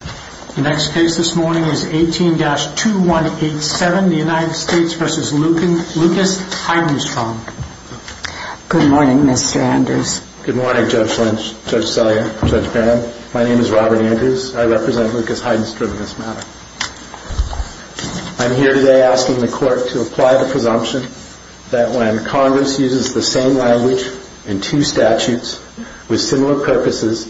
The next case this morning is 18-2187, the United States v. Lucas Heidenstrom. Good morning, Mr. Andrews. Good morning, Judge Lynch, Judge Sellier, Judge Graham. My name is Robert Andrews. I represent Lucas Heidenstrom in this matter. I'm here today asking the Court to apply the presumption that when Congress uses the same language in two statutes with similar purposes,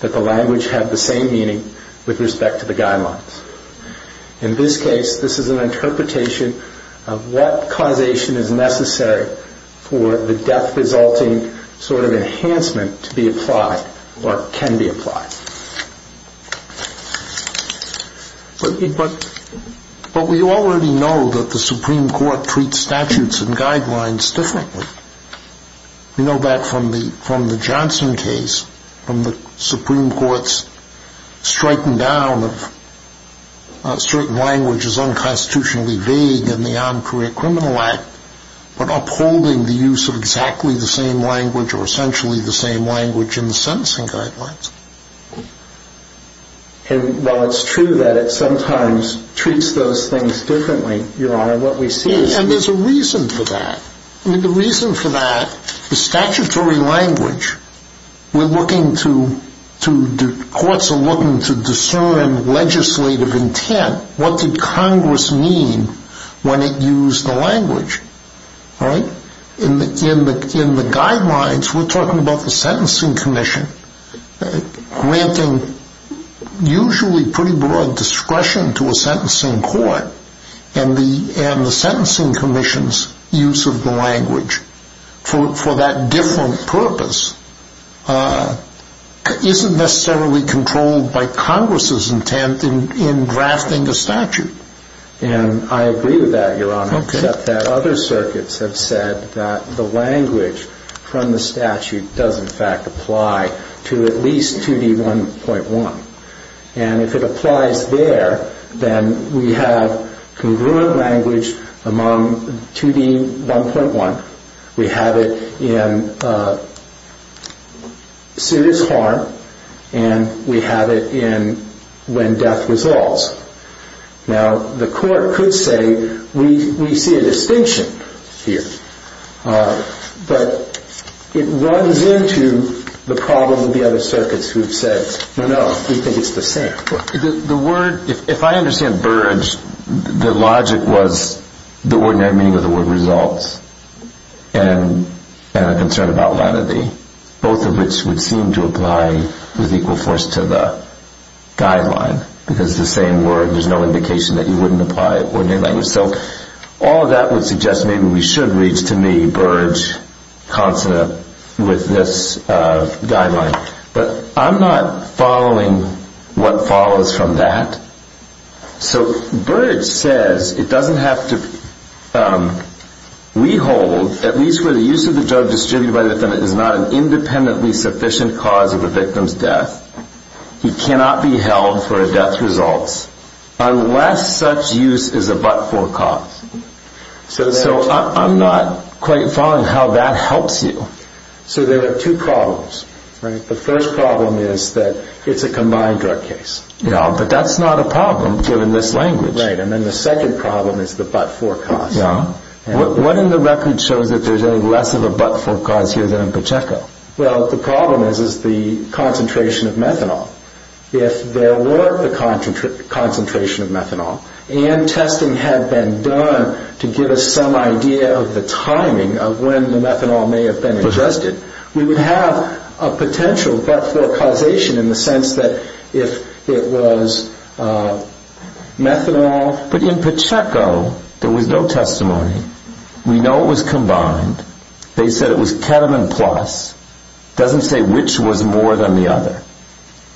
that the language have the same meaning with respect to the guidelines. In this case, this is an interpretation of what causation is necessary for the death-resulting sort of enhancement to be applied or can be applied. But we already know that the Supreme Court treats statutes and guidelines differently. We know that from the Johnson case, from the Supreme Court's striking down of certain languages unconstitutionally vague in the Armed Career Criminal Act, but upholding the use of exactly the same language or essentially the same language in the sentencing guidelines. And while it's true that it sometimes treats those things differently, Your Honor, what we see is... And there's a reason for that. I mean, the reason for that is statutory language. We're looking to... Courts are looking to discern legislative intent. What did Congress mean when it used the language, right? In the guidelines, we're talking about the Sentencing Commission granting usually pretty broad discretion to a sentencing court, and the Sentencing Commission's use of the language for that different purpose isn't necessarily controlled by Congress's intent in drafting a statute. And I agree with that, Your Honor, except that other circuits have said that the language from the statute does in fact apply to at least 2D1.1. And if it applies there, then we have congruent language among 2D1.1. We have it in suit is harm, and we have it in when death resolves. Now, the court could say, we see a distinction here. But it runs into the problem of the other circuits who have said, no, no, we think it's the same. The word... If I understand Burge, the logic was the ordinary meaning of the word results and a concern about latity, both of which would seem to apply with equal force to the guideline, because it's the same word. There's no indication that you wouldn't apply ordinary language. So all of that would suggest maybe we should reach to me, Burge, consonant with this guideline. But I'm not following what follows from that. So Burge says it doesn't have to... We hold, at least where the use of the drug distributed by the defendant is not an independently sufficient cause of a victim's death, he cannot be held for a death's results unless such use is a but-for cause. So I'm not quite following how that helps you. So there are two problems. The first problem is that it's a combined drug case. Yeah, but that's not a problem, given this language. Right, and then the second problem is the but-for cause. What in the record shows that there's any less of a but-for cause here than in Pacheco? Well, the problem is the concentration of methanol. If there were a concentration of methanol and testing had been done to give us some idea of the timing of when the methanol may have been ingested, we would have a potential but-for causation in the sense that if it was methanol... But in Pacheco, there was no testimony. We know it was combined. They said it was ketamine plus. It doesn't say which was more than the other.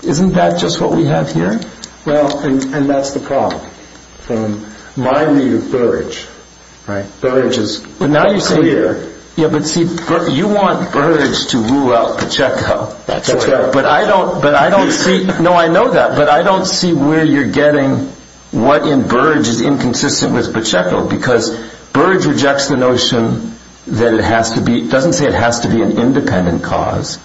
Isn't that just what we have here? Well, and that's the problem. From my view of Burge, Burge is clear... Yeah, but see, you want Burge to rule out Pacheco. That's right. But I don't see... No, I know that. But I don't see where you're getting what in Burge is inconsistent with Pacheco because Burge rejects the notion that it has to be... It doesn't say it has to be an independent cause.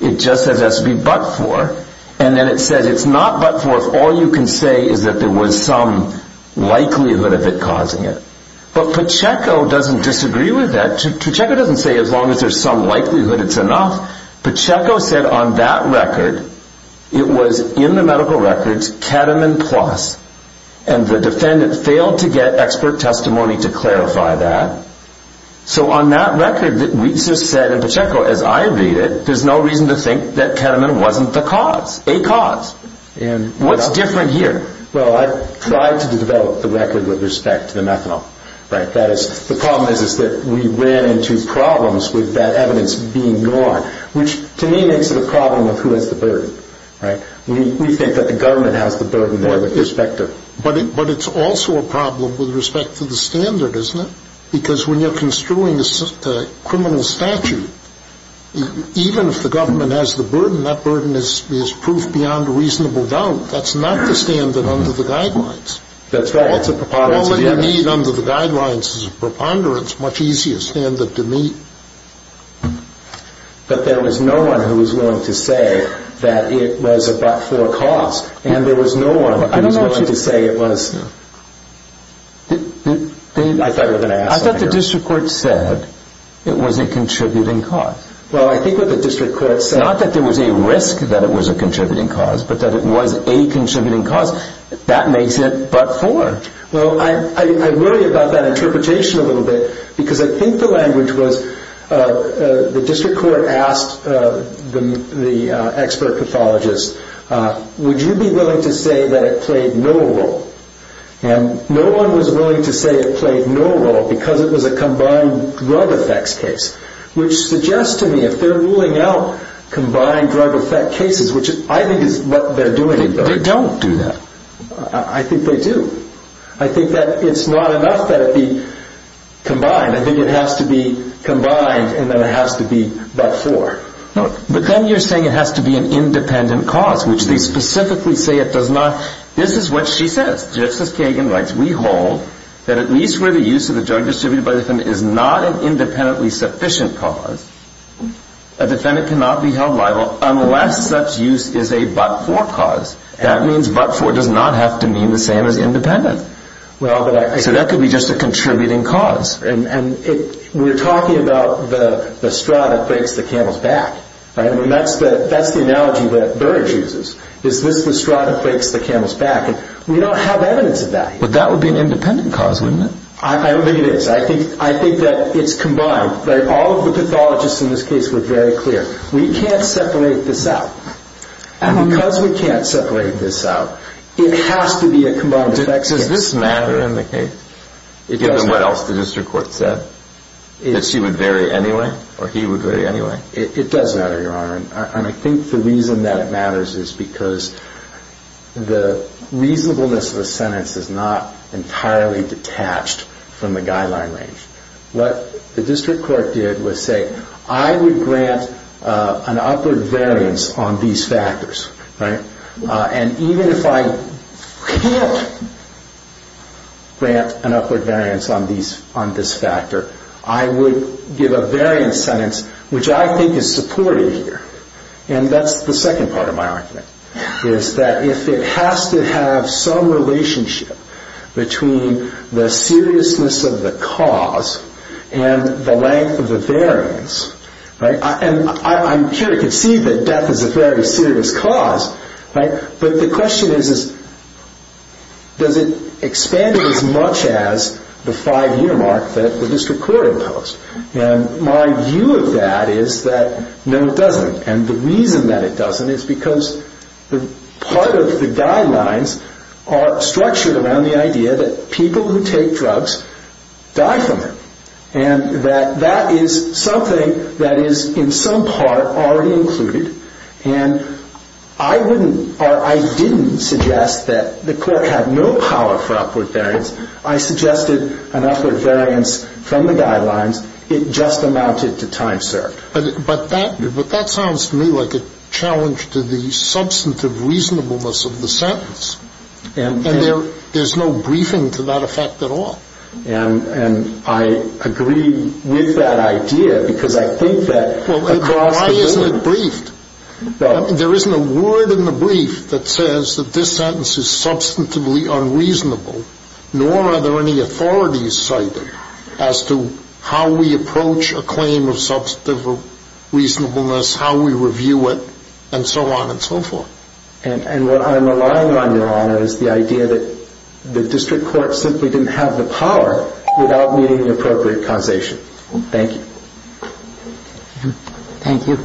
It just says it has to be but-for. And then it says it's not but-for if all you can say is that there was some likelihood of it causing it. But Pacheco doesn't disagree with that. Pacheco doesn't say as long as there's some likelihood it's enough. Pacheco said on that record it was in the medical records ketamine plus and the defendant failed to get expert testimony to clarify that. So on that record, we just said in Pacheco, as I read it, there's no reason to think that ketamine wasn't the cause, a cause. What's different here? Well, I tried to develop the record with respect to the methanol. The problem is that we ran into problems with that evidence being gone, which to me makes it a problem of who has the burden. We think that the government has the burden there with respect to... But it's also a problem with respect to the standard, isn't it? Because when you're construing a criminal statute, even if the government has the burden, that burden is proof beyond a reasonable doubt. That's not the standard under the guidelines. That's right. All you need under the guidelines is a preponderance, much easier standard to meet. But there was no one who was willing to say that it was a but-for cause, and there was no one who was willing to say it was... I thought you were going to ask that. I thought the district court said it was a contributing cause. Well, I think what the district court said... Not that there was a risk that it was a contributing cause, but that it was a contributing cause. That makes it but-for. Well, I worry about that interpretation a little bit because I think the language was the district court asked the expert pathologist, would you be willing to say that it played no role? And no one was willing to say it played no role because it was a combined drug effects case, which suggests to me if they're ruling out combined drug effect cases, which I think is what they're doing... They don't do that. I think they do. I think that it's not enough that it be combined. I think it has to be combined and then it has to be but-for. But then you're saying it has to be an independent cause, which they specifically say it does not... This is what she says. Just as Kagan writes, we hold that at least where the use of the drug distributed by the defendant is not an independently sufficient cause, a defendant cannot be held liable unless such use is a but-for cause. That means but-for does not have to mean the same as independent. So that could be just a contributing cause. We're talking about the straw that breaks the camel's back. That's the analogy that Burrage uses. Is this the straw that breaks the camel's back? We don't have evidence of that. But that would be an independent cause, wouldn't it? I think it is. I think that it's combined. All of the pathologists in this case were very clear. We can't separate this out. And because we can't separate this out, it has to be a combined effect. Does this matter in the case, given what else the district court said, that she would vary anyway or he would vary anyway? It does matter, Your Honor. And I think the reason that it matters is because the reasonableness of the sentence is not entirely detached from the guideline range. What the district court did was say, I would grant an upward variance on these factors. And even if I can't grant an upward variance on this factor, I would give a variance sentence, which I think is supported here. And that's the second part of my argument, is that if it has to have some relationship between the seriousness of the cause and the length of the variance. And I'm sure you can see that death is a very serious cause. But the question is, does it expand it as much as the five-year mark that the district court imposed? And my view of that is that no, it doesn't. And the reason that it doesn't is because part of the guidelines are structured around the idea that people who take drugs die from it. And that that is something that is in some part already included. And I wouldn't or I didn't suggest that the court had no power for upward variance. I suggested an upward variance from the guidelines. It just amounted to time served. But that sounds to me like a challenge to the substantive reasonableness of the sentence. And there's no briefing to that effect at all. And I agree with that idea because I think that across the board. Why isn't it briefed? There isn't a word in the brief that says that this sentence is substantively unreasonable, nor are there any authorities cited as to how we approach a claim of substantive reasonableness, how we review it, and so on and so forth. And what I'm relying on, Your Honor, is the idea that the district court simply didn't have the power without meeting the appropriate causation. Thank you. Thank you.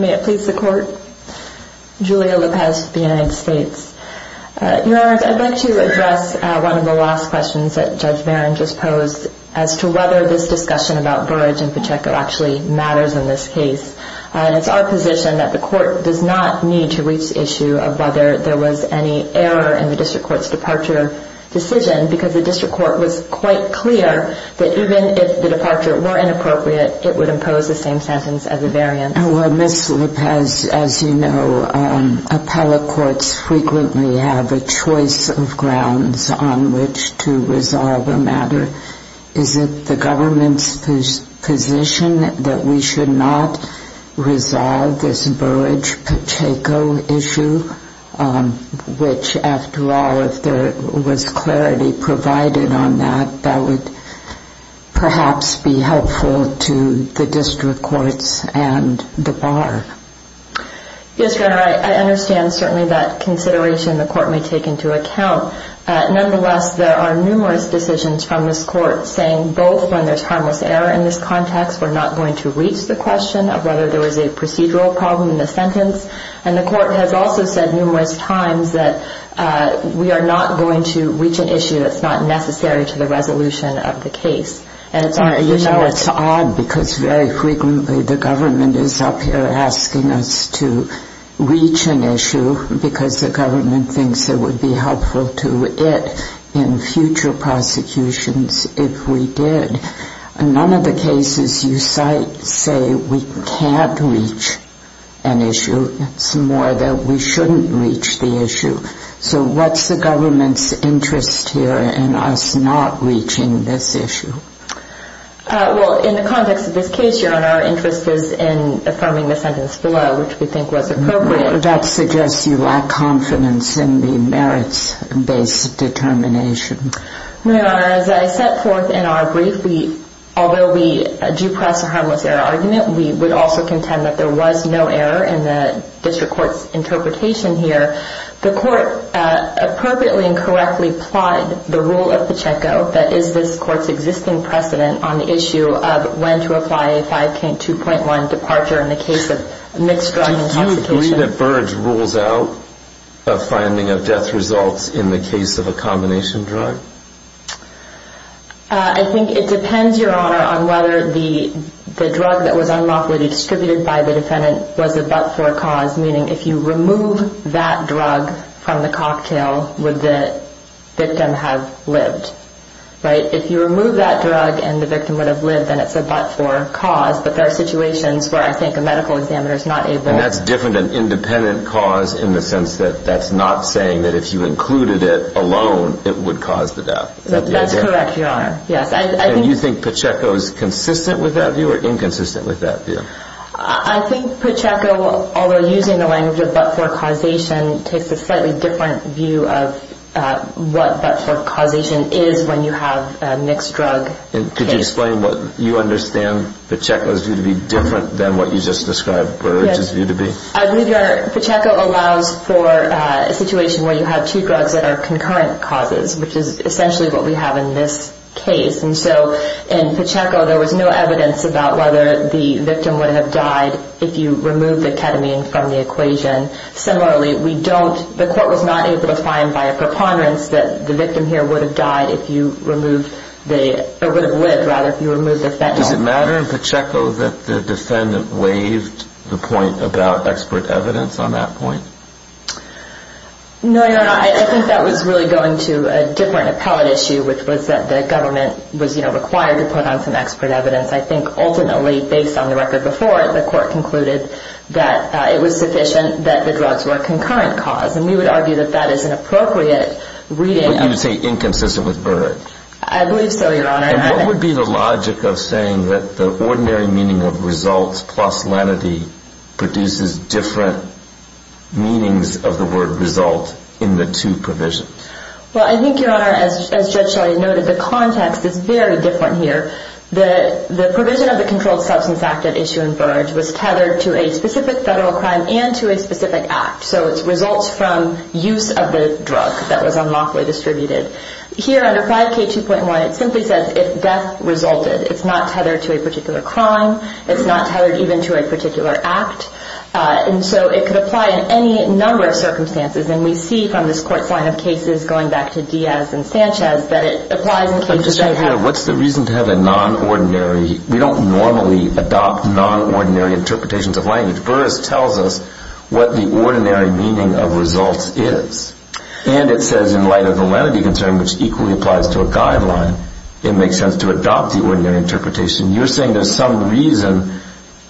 May it please the court. Julia Lopez with the United States. Your Honor, I'd like to address one of the last questions that Judge Barron just posed as to whether this discussion about Burrage and Pacheco actually matters in this case. It's our position that the court does not need to reach the issue of whether there was any error in the district court's departure decision because the district court was quite clear that even if the departure were inappropriate, it would impose the same sentence as a variance. Well, Ms. Lopez, as you know, appellate courts frequently have a choice of grounds on which to resolve a matter. Is it the government's position that we should not resolve this Burrage-Pacheco issue, which, after all, if there was clarity provided on that, that would perhaps be helpful to the district courts and the bar? Yes, Your Honor, I understand certainly that consideration the court may take into account. Nonetheless, there are numerous decisions from this court saying both when there's harmless error in this context, we're not going to reach the question of whether there was a procedural problem in the sentence, and the court has also said numerous times that we are not going to reach an issue that's not necessary to the resolution of the case. Your Honor, you know it's odd because very frequently the government is up here asking us to reach an issue because the government thinks it would be helpful to it in future prosecutions if we did. None of the cases you cite say we can't reach an issue. It's more that we shouldn't reach the issue. So what's the government's interest here in us not reaching this issue? Well, in the context of this case, Your Honor, our interest was in affirming the sentence below, which we think was appropriate. That suggests you lack confidence in the merits-based determination. Your Honor, as I set forth in our brief, although we do press a harmless error argument, we would also contend that there was no error in the district court's interpretation here. The court appropriately and correctly applied the rule of Pacheco that is this court's existing precedent on the issue of when to apply a 5-2.1 departure in the case of mixed drug intoxication. Do you agree that Burge rules out a finding of death results in the case of a combination drug? I think it depends, Your Honor, on whether the drug that was unlawfully distributed by the defendant was a but-for cause, meaning if you remove that drug from the cocktail, would the victim have lived, right? If you remove that drug and the victim would have lived, then it's a but-for cause, but there are situations where I think a medical examiner is not able. And that's different than independent cause in the sense that that's not saying that if you included it alone, it would cause the death. That's correct, Your Honor, yes. And you think Pacheco is consistent with that view or inconsistent with that view? I think Pacheco, although using the language of but-for causation, takes a slightly different view of what but-for causation is when you have a mixed drug case. Could you explain what you understand Pacheco's view to be different than what you just described Burge's view to be? I agree, Your Honor. Pacheco allows for a situation where you have two drugs that are concurrent causes, which is essentially what we have in this case. And so in Pacheco, there was no evidence about whether the victim would have died if you removed the ketamine from the equation. Similarly, we don't – the court was not able to find by a preponderance that the victim here would have died if you removed the – or would have lived, rather, if you removed the fentanyl. Does it matter in Pacheco that the defendant waived the point about expert evidence on that point? No, Your Honor. I think that was really going to a different appellate issue, which was that the government was, you know, required to put on some expert evidence. I think ultimately, based on the record before, the court concluded that it was sufficient that the drugs were a concurrent cause. And we would argue that that is an appropriate reading. But you would say inconsistent with Burge? I believe so, Your Honor. And what would be the logic of saying that the ordinary meaning of results plus lenity produces different meanings of the word result in the two provisions? Well, I think, Your Honor, as Judge Shiley noted, the context is very different here. The provision of the Controlled Substance Act at issue in Burge was tethered to a specific federal crime and to a specific act. So it results from use of the drug that was unlawfully distributed. Here, under 5K2.1, it simply says if death resulted. It's not tethered to a particular crime. It's not tethered even to a particular act. And so it could apply in any number of circumstances. And we see from this court's line of cases, going back to Diaz and Sanchez, that it applies in cases right here. What's the reason to have a non-ordinary? We don't normally adopt non-ordinary interpretations of language. Burge tells us what the ordinary meaning of results is. And it says in light of the lenity concern, which equally applies to a guideline, it makes sense to adopt the ordinary interpretation. You're saying there's some reason.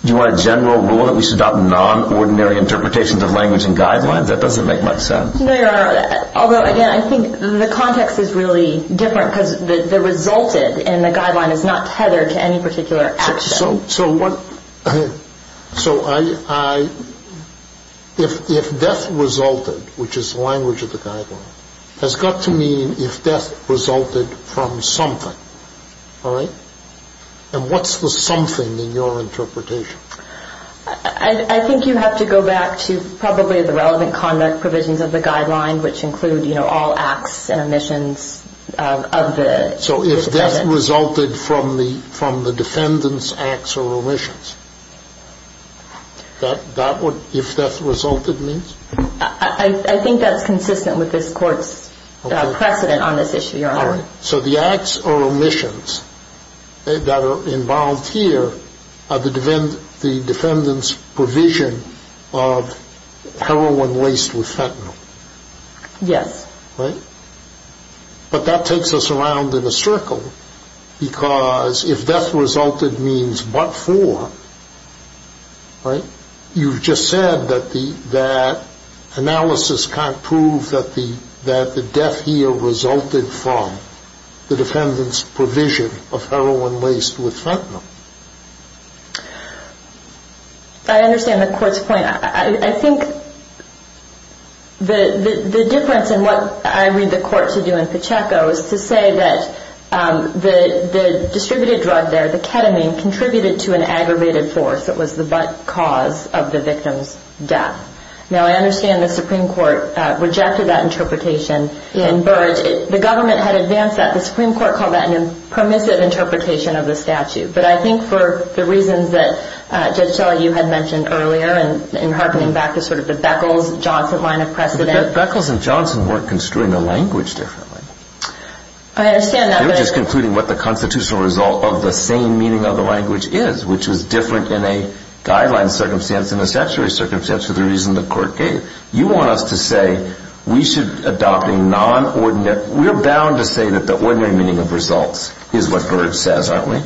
Do you want a general rule that we should adopt non-ordinary interpretations of language and guidelines? That doesn't make much sense. No, Your Honor. Although, again, I think the context is really different because the resulted in the guideline is not tethered to any particular action. So if death resulted, which is the language of the guideline, has got to mean if death resulted from something, all right? And what's the something in your interpretation? I think you have to go back to probably the relevant conduct provisions of the guideline, which include all acts and omissions of the defendant. So if death resulted from the defendant's acts or omissions, that's what if death resulted means? I think that's consistent with this court's precedent on this issue, Your Honor. All right. So the acts or omissions that are involved here are the defendant's provision of heroin laced with fentanyl. Yes. Right? But that takes us around in a circle because if death resulted means but for, right? You've just said that analysis can't prove that the death here resulted from the defendant's provision of heroin laced with fentanyl. I understand the court's point. I think the difference in what I read the court to do in Pacheco is to say that the distributed drug there, the ketamine, contributed to an aggravated force that was the cause of the victim's death. Now, I understand the Supreme Court rejected that interpretation in Burrage. The government had advanced that. The Supreme Court called that a permissive interpretation of the statute. But I think for the reasons that, Judge Shelley, you had mentioned earlier in harkening back to sort of the Beckles-Johnson line of precedent. But Beckles and Johnson weren't construing the language differently. I understand that. They were just concluding what the constitutional result of the same meaning of the language is, which was different in a guideline circumstance and a statutory circumstance for the reason the court gave. You want us to say we should adopt a non-ordinary. We're bound to say that the ordinary meaning of results is what Burrage says, aren't we?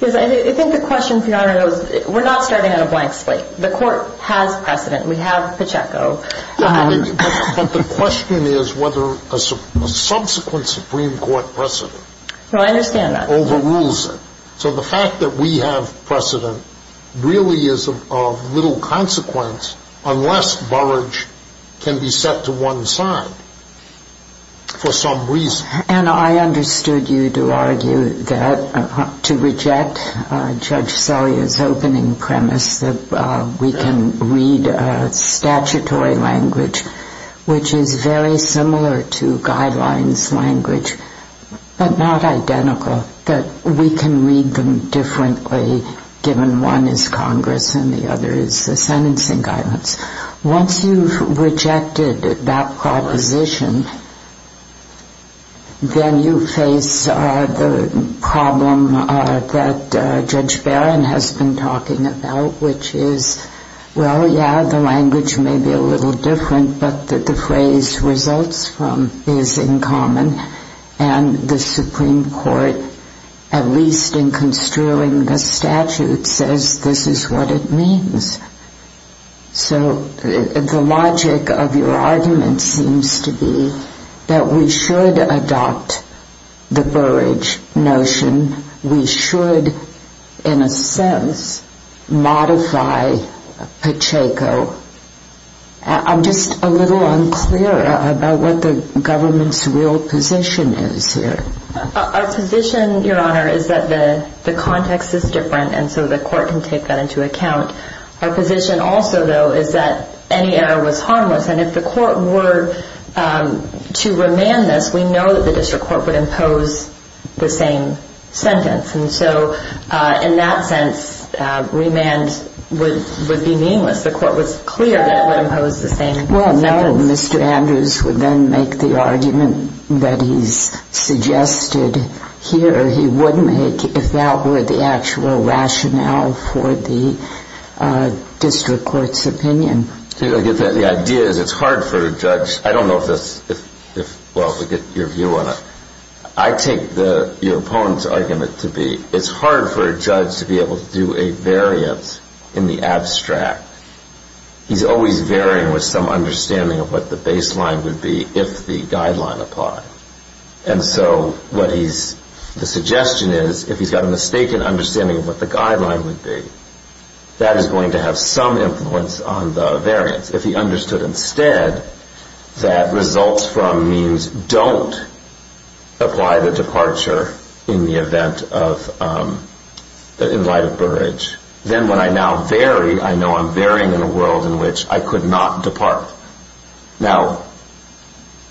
Yes. I think the question, Your Honor, is we're not starting on a blank slate. The court has precedent. We have Pacheco. But the question is whether a subsequent Supreme Court precedent overrules it. No, I understand that. So the fact that we have precedent really is of little consequence unless Burrage can be set to one side for some reason. And I understood you to argue that to reject Judge Selye's opening premise that we can read statutory language, which is very similar to guidelines language but not identical, that we can read them differently given one is Congress and the other is the sentencing guidance. Once you've rejected that proposition, then you face the problem that Judge Barron has been talking about, which is, well, yeah, the language may be a little different, but that the phrase results from is in common. And the Supreme Court, at least in construing the statute, says this is what it means. So the logic of your argument seems to be that we should adopt the Burrage notion. We should, in a sense, modify Pacheco. I'm just a little unclear about what the government's real position is here. Our position, Your Honor, is that the context is different and so the court can take that into account. Our position also, though, is that any error was harmless, and if the court were to remand this, we know that the district court would impose the same sentence. And so in that sense, remand would be meaningless. The court was clear that it would impose the same sentence. Well, no, Mr. Andrews would then make the argument that he's suggested here. He would make if that were the actual rationale for the district court's opinion. The idea is it's hard for a judge. I don't know if that's, well, to get your view on it. I take your opponent's argument to be it's hard for a judge to be able to do a variance in the abstract. He's always varying with some understanding of what the baseline would be if the guideline applied. And so what he's, the suggestion is if he's got a mistaken understanding of what the guideline would be, that is going to have some influence on the variance. If he understood instead that results from means don't apply the departure in the event of, in light of Burrage, then when I now vary, I know I'm varying in a world in which I could not depart. Now,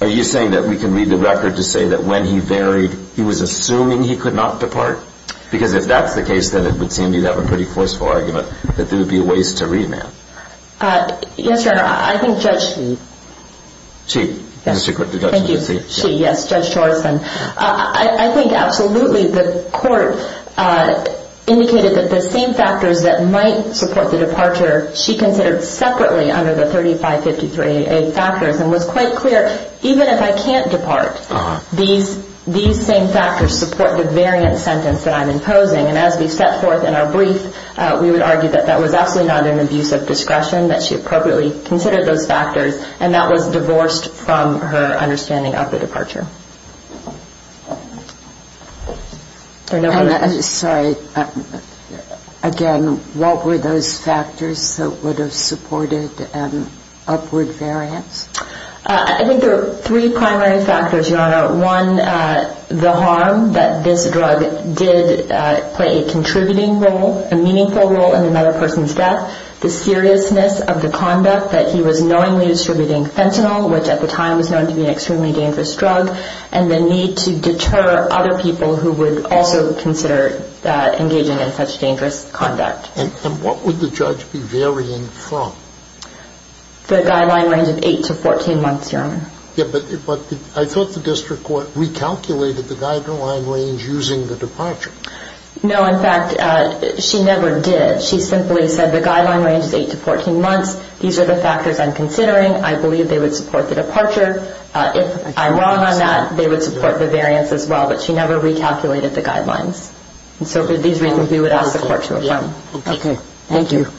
are you saying that we can read the record to say that when he varied, he was assuming he could not depart? Because if that's the case, then it would seem you'd have a pretty forceful argument that there would be a ways to remand. Yes, Your Honor. I think Judge Shee. Shee. Yes. Thank you. Shee. Yes, Judge Chorison. I think absolutely the court indicated that the same factors that might support the departure, she considered separately under the 3553A factors and was quite clear, even if I can't depart, these same factors support the variance sentence that I'm imposing. And as we set forth in our brief, we would argue that that was absolutely not an abuse of discretion, that she appropriately considered those factors, and that was divorced from her understanding of the departure. Sorry. Again, what were those factors that would have supported an upward variance? I think there are three primary factors, Your Honor. One, the harm that this drug did play a contributing role, a meaningful role in another person's death. The seriousness of the conduct that he was knowingly distributing fentanyl, which at the time was known to be an extremely dangerous drug, and the need to deter other people who would also consider engaging in such dangerous conduct. And what would the judge be varying from? The guideline range of 8 to 14 months, Your Honor. Yes, but I thought the district court recalculated the guideline range using the departure. No, in fact, she never did. She simply said the guideline range is 8 to 14 months. These are the factors I'm considering. I believe they would support the departure. If I'm wrong on that, they would support the variance as well, but she never recalculated the guidelines. And so for these reasons, we would ask the court to affirm. Okay. Thank you. Thank you.